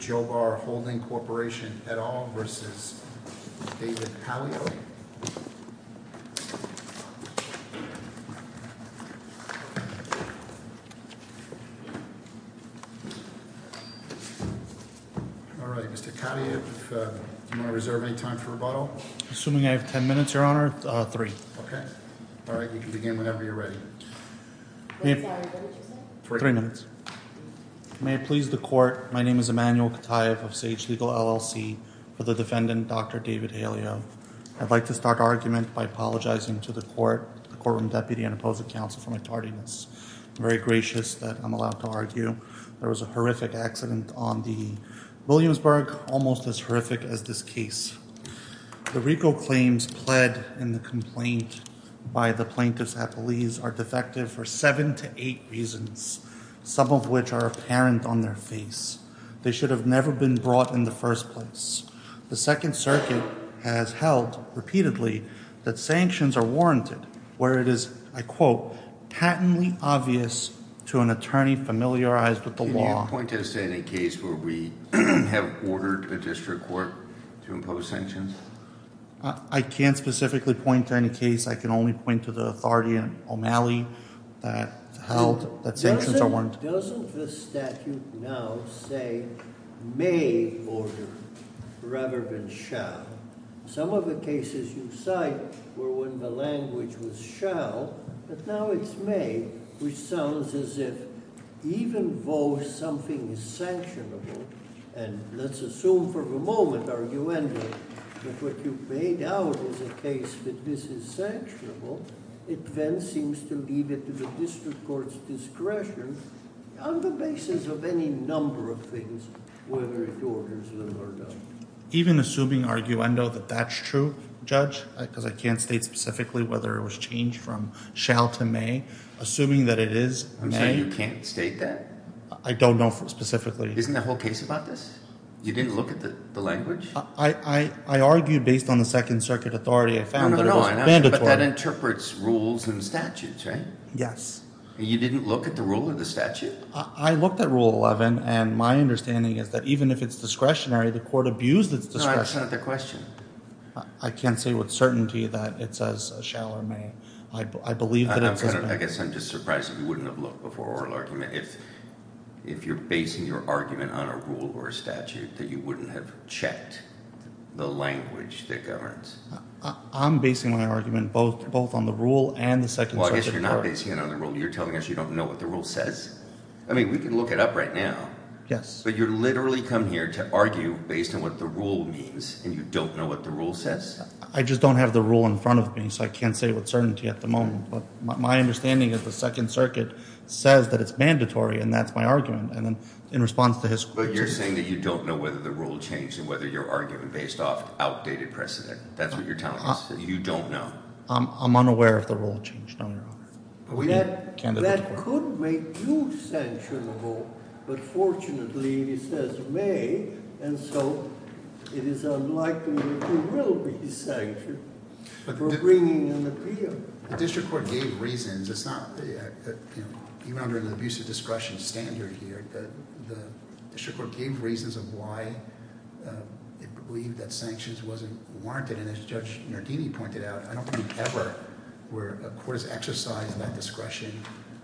Joe Barr Holding Corporation, et al. v. David Pagliari Mr. Kadyev, do you want to reserve any time for rebuttal? Assuming I have ten minutes, Your Honor, three. Alright, you can begin whenever you're ready. Three minutes. May it please the Court, my name is Emmanuel Kadyev of Sage Legal, LLC, for the defendant, Dr. David Haleo. I'd like to start argument by apologizing to the Court, the Courtroom Deputy, and opposing counsel for my tardiness. I'm very gracious that I'm allowed to argue. There was a horrific accident on the Williamsburg, almost as horrific as this case. The RICO claims pled in the complaint by the plaintiffs at police are defective for seven to eight reasons, some of which are apparent on their face. They should have never been brought in the first place. The Second Circuit has held repeatedly that sanctions are warranted, where it is, I quote, patently obvious to an attorney familiarized with the law. Can you point us to any case where we have ordered a district court to impose sanctions? I can't specifically point to any case. I can only point to the authority in O'Malley that held that sanctions are warranted. Doesn't the statute now say may order rather than shall? Some of the cases you cite were when the language was shall, but now it's may, which sounds as if even though something is sanctionable, and let's assume for the moment, arguably, that what you've made out is a case that this is sanctionable, it then seems to leave it to the district court's discretion on the basis of any number of things, whether it orders them or not. Even assuming arguendo that that's true, Judge, because I can't state specifically whether it was changed from shall to may, assuming that it is may. So you can't state that? I don't know specifically. Isn't the whole case about this? You didn't look at the language? I argued based on the Second Circuit authority I found that it was mandatory. But that interprets rules and statutes, right? Yes. You didn't look at the rule or the statute? I looked at Rule 11, and my understanding is that even if it's discretionary, the court abused its discretion. No, that's not the question. I can't say with certainty that it says shall or may. I believe that it says may. I guess I'm just surprised that you wouldn't have looked before oral argument. If you're basing your argument on a rule or a statute, then you wouldn't have checked the language that governs. I'm basing my argument both on the rule and the Second Circuit court. If you're not basing it on the rule, you're telling us you don't know what the rule says? I mean, we can look it up right now. Yes. But you literally come here to argue based on what the rule means, and you don't know what the rule says? I just don't have the rule in front of me, so I can't say with certainty at the moment. But my understanding is the Second Circuit says that it's mandatory, and that's my argument. And then in response to his question— But you're saying that you don't know whether the rule changed and whether you're arguing based off outdated precedent. That's what you're telling us, that you don't know. I'm unaware if the rule changed, Your Honor. That could make you sanctionable, but fortunately it says may, and so it is unlikely that you will be sanctioned for bringing an appeal. The district court gave reasons. It's not—even under an abusive discretion standard here, the district court gave reasons of why it believed that sanctions wasn't warranted. And as Judge Nardini pointed out, I don't believe ever where a court has exercised that discretion,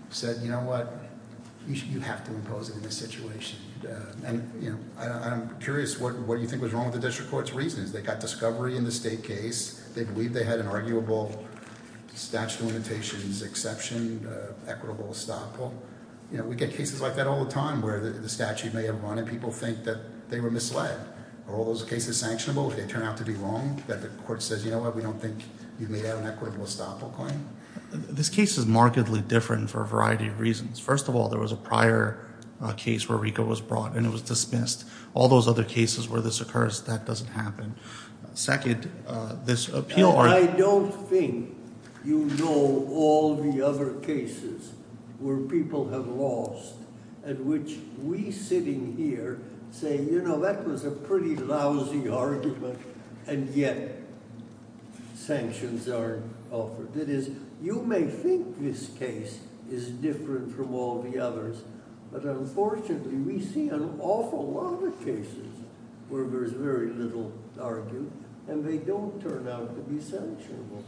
said, you know what, you have to impose it in this situation. And I'm curious what you think was wrong with the district court's reasons. They got discovery in the state case. They believed they had an arguable statute of limitations exception, equitable estoppel. We get cases like that all the time where the statute may have run, and people think that they were misled. Are all those cases sanctionable if they turn out to be wrong, that the court says, you know what, we don't think you've made out an equitable estoppel claim? This case is markedly different for a variety of reasons. First of all, there was a prior case where RICO was brought and it was dismissed. All those other cases where this occurs, that doesn't happen. Second, this appeal— I don't think you know all the other cases where people have lost, at which we sitting here say, you know, that was a pretty lousy argument, and yet sanctions aren't offered. That is, you may think this case is different from all the others. But unfortunately, we see an awful lot of cases where there's very little argued, and they don't turn out to be sanctionable.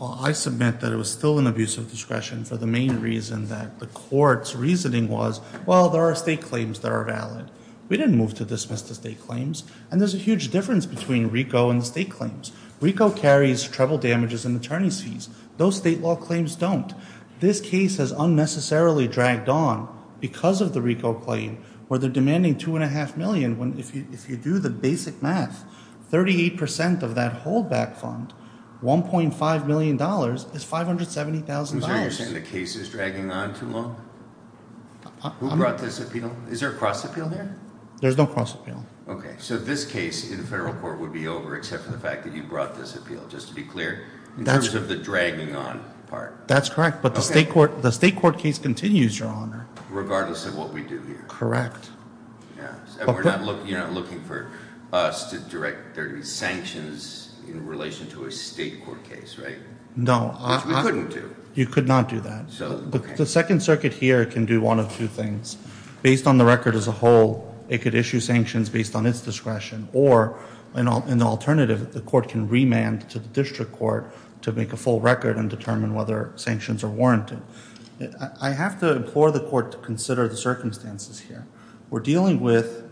I submit that it was still an abuse of discretion for the main reason that the court's reasoning was, well, there are state claims that are valid. We didn't move to dismiss the state claims, and there's a huge difference between RICO and the state claims. RICO carries treble damages and attorney's fees. Those state law claims don't. This case has unnecessarily dragged on because of the RICO claim, where they're demanding $2.5 million. If you do the basic math, 38% of that holdback fund, $1.5 million, is $570,000. So you're saying the case is dragging on too long? Who brought this appeal? Is there a cross-appeal there? There's no cross-appeal. Okay. So this case in the federal court would be over except for the fact that you brought this appeal, just to be clear, in terms of the dragging on part. That's correct. But the state court case continues, Your Honor. Regardless of what we do here. Correct. You're not looking for us to direct sanctions in relation to a state court case, right? No. Which we couldn't do. You could not do that. The Second Circuit here can do one of two things. Based on the record as a whole, it could issue sanctions based on its discretion. Or, an alternative, the court can remand to the district court to make a full record and determine whether sanctions are warranted. I have to implore the court to consider the circumstances here. We're dealing with,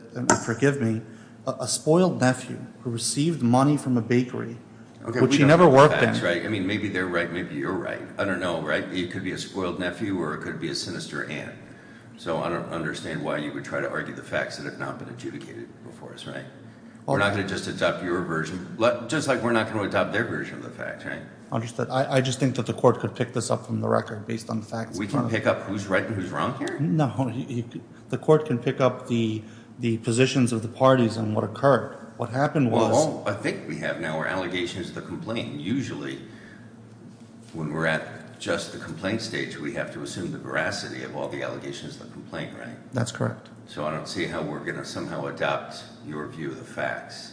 forgive me, a spoiled nephew who received money from a bakery, which he never worked in. I mean, maybe they're right, maybe you're right. I don't know, right? It could be a spoiled nephew or it could be a sinister aunt. So I don't understand why you would try to argue the facts that have not been adjudicated before us, right? We're not going to just adopt your version. Just like we're not going to adopt their version of the facts, right? Understood. I just think that the court could pick this up from the record based on the facts. We can pick up who's right and who's wrong here? No. The court can pick up the positions of the parties on what occurred. What happened was... Well, I think we have now. Our allegation is the complaint. Usually, when we're at just the complaint stage, we have to assume the veracity of all the allegations of the complaint, right? That's correct. So I don't see how we're going to somehow adopt your view of the facts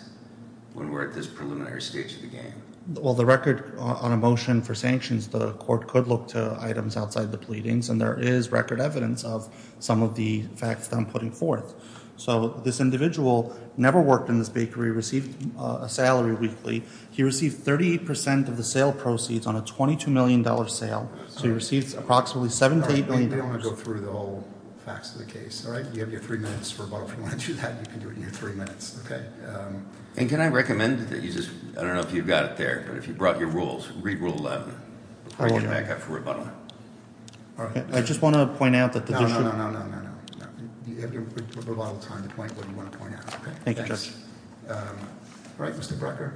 when we're at this preliminary stage of the game. Well, the record on a motion for sanctions, the court could look to items outside the pleadings, and there is record evidence of some of the facts that I'm putting forth. So this individual never worked in this bakery, received a salary weekly. He received 38% of the sale proceeds on a $22 million sale. So he received approximately $7 to $8 million. I don't want to go through the whole facts of the case. All right? You have your three minutes for rebuttal. If you want to do that, you can do it in your three minutes. Okay? And can I recommend that you just... I don't know if you've got it there, but if you brought your rules, read Rule 11. All right. I can back up for rebuttal. All right. I just want to point out that the district... No, no, no, no, no, no, no. You have your rebuttal time to point what you want to point out. Okay? Thanks. All right. Mr. Brecker?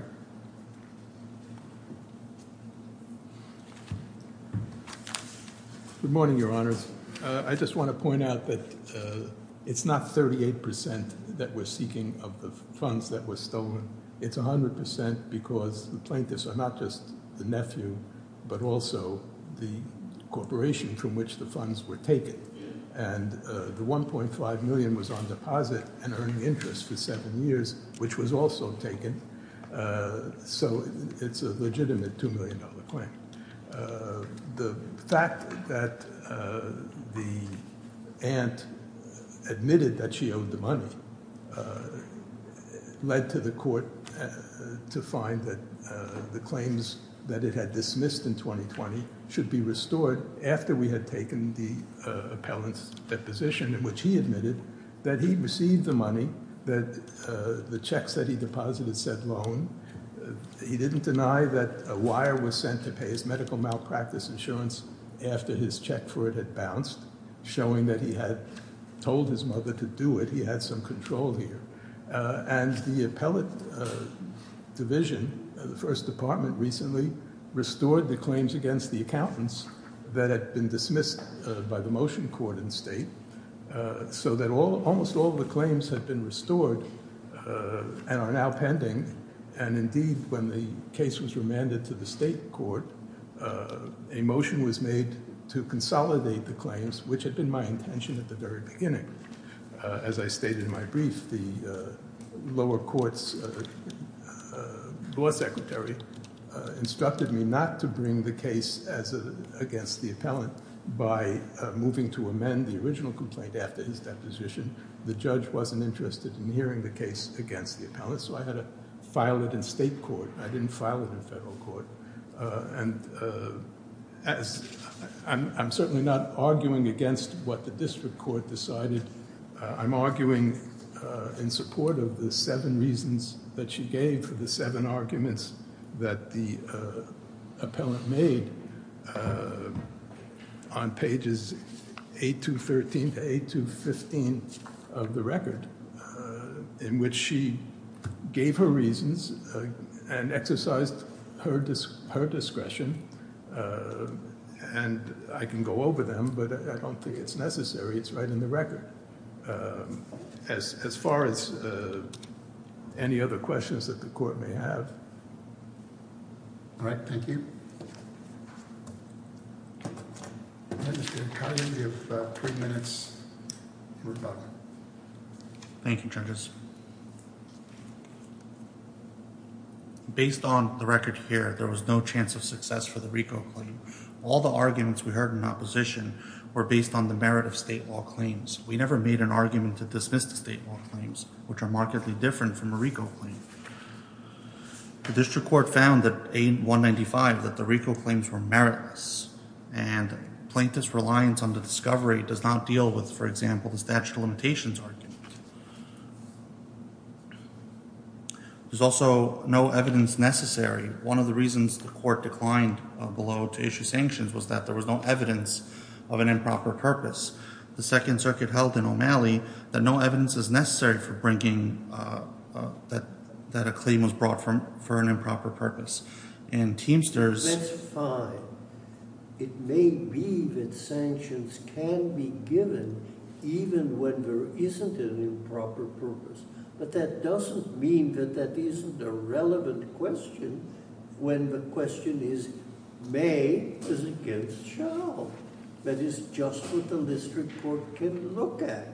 Good morning, Your Honors. I just want to point out that it's not 38% that we're seeking of the funds that were stolen. It's 100% because the plaintiffs are not just the nephew, but also the corporation from which the funds were taken. And the $1.5 million was on deposit and earned interest for seven years, which was also taken. So, it's a legitimate $2 million claim. The fact that the aunt admitted that she owed the money led to the court to find that the claims that it had dismissed in 2020 should be restored after we had taken the appellant's deposition in which he admitted that he received the money that the checks that he deposited said loan. He didn't deny that a wire was sent to pay his medical malpractice insurance after his check for it had bounced, showing that he had told his mother to do it. He had some control here. And the appellate division, the first department, recently restored the claims against the accountants that had been dismissed by the motion court in state so that almost all the claims had been restored and are now pending. And indeed, when the case was remanded to the state court, a motion was made to consolidate the claims, which had been my intention at the very beginning. As I stated in my brief, the lower court's law secretary instructed me not to bring the case against the appellant by moving to amend the original complaint after his deposition. The judge wasn't interested in hearing the case against the appellant, so I had to file it in state court. I didn't file it in federal court. And I'm certainly not arguing against what the district court decided. I'm arguing in support of the seven reasons that she gave for the seven arguments that the appellant made on pages 8 to 13 to 8 to 15 of the record, in which she gave her reasons and exercised her discretion. And I can go over them, but I don't think it's necessary. It's right in the record, as far as any other questions that the court may have. All right. Thank you. Thank you, judges. Based on the record here, there was no chance of success for the RICO claim. All the arguments we heard in opposition were based on the merit of state law claims. We never made an argument to dismiss the state law claims, which are markedly different from a RICO claim. The district court found that A195, that the RICO claims were meritless, and plaintiff's reliance on the discovery does not deal with, for example, the statute of limitations argument. There's also no evidence necessary. One of the reasons the court declined below to issue sanctions was that there was no evidence of an improper purpose. The Second Circuit held in O'Malley that no evidence is necessary for bringing that a claim was brought for an improper purpose. And Teamsters— That's fine. It may be that sanctions can be given even when there isn't an improper purpose. But that doesn't mean that that isn't a relevant question when the question is, may this against shall? That is just what the district court can look at.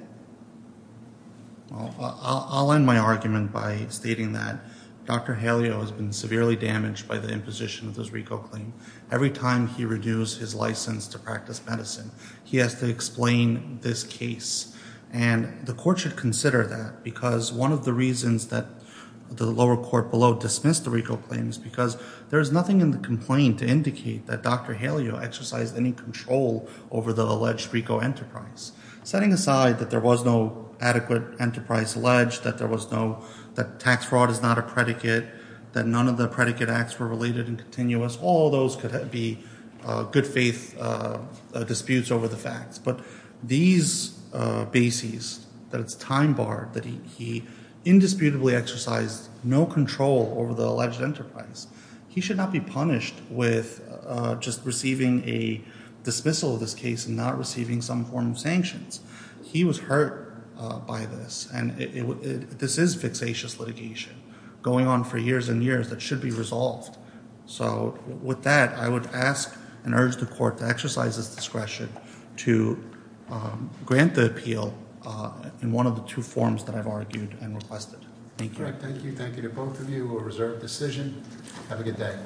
I'll end my argument by stating that Dr. Haleo has been severely damaged by the imposition of this RICO claim. Every time he reduced his license to practice medicine, he has to explain this case. And the court should consider that because one of the reasons that the lower court below dismissed the RICO claim is because there is nothing in the complaint to indicate that Dr. Haleo exercised any control over the alleged RICO enterprise. Setting aside that there was no adequate enterprise alleged, that there was no—that tax fraud is not a predicate, that none of the predicate acts were related and continuous, all those could be good faith disputes over the facts. But these bases, that it's time barred, that he indisputably exercised no control over the alleged enterprise, he should not be punished with just receiving a dismissal of this case and not receiving some form of sanctions. He was hurt by this. And this is fixatious litigation going on for years and years that should be resolved. So with that, I would ask and urge the court to exercise its discretion to grant the appeal in one of the two forms that I've argued and requested. Thank you. Thank you. Thank you to both of you. We'll reserve the decision. Have a good day.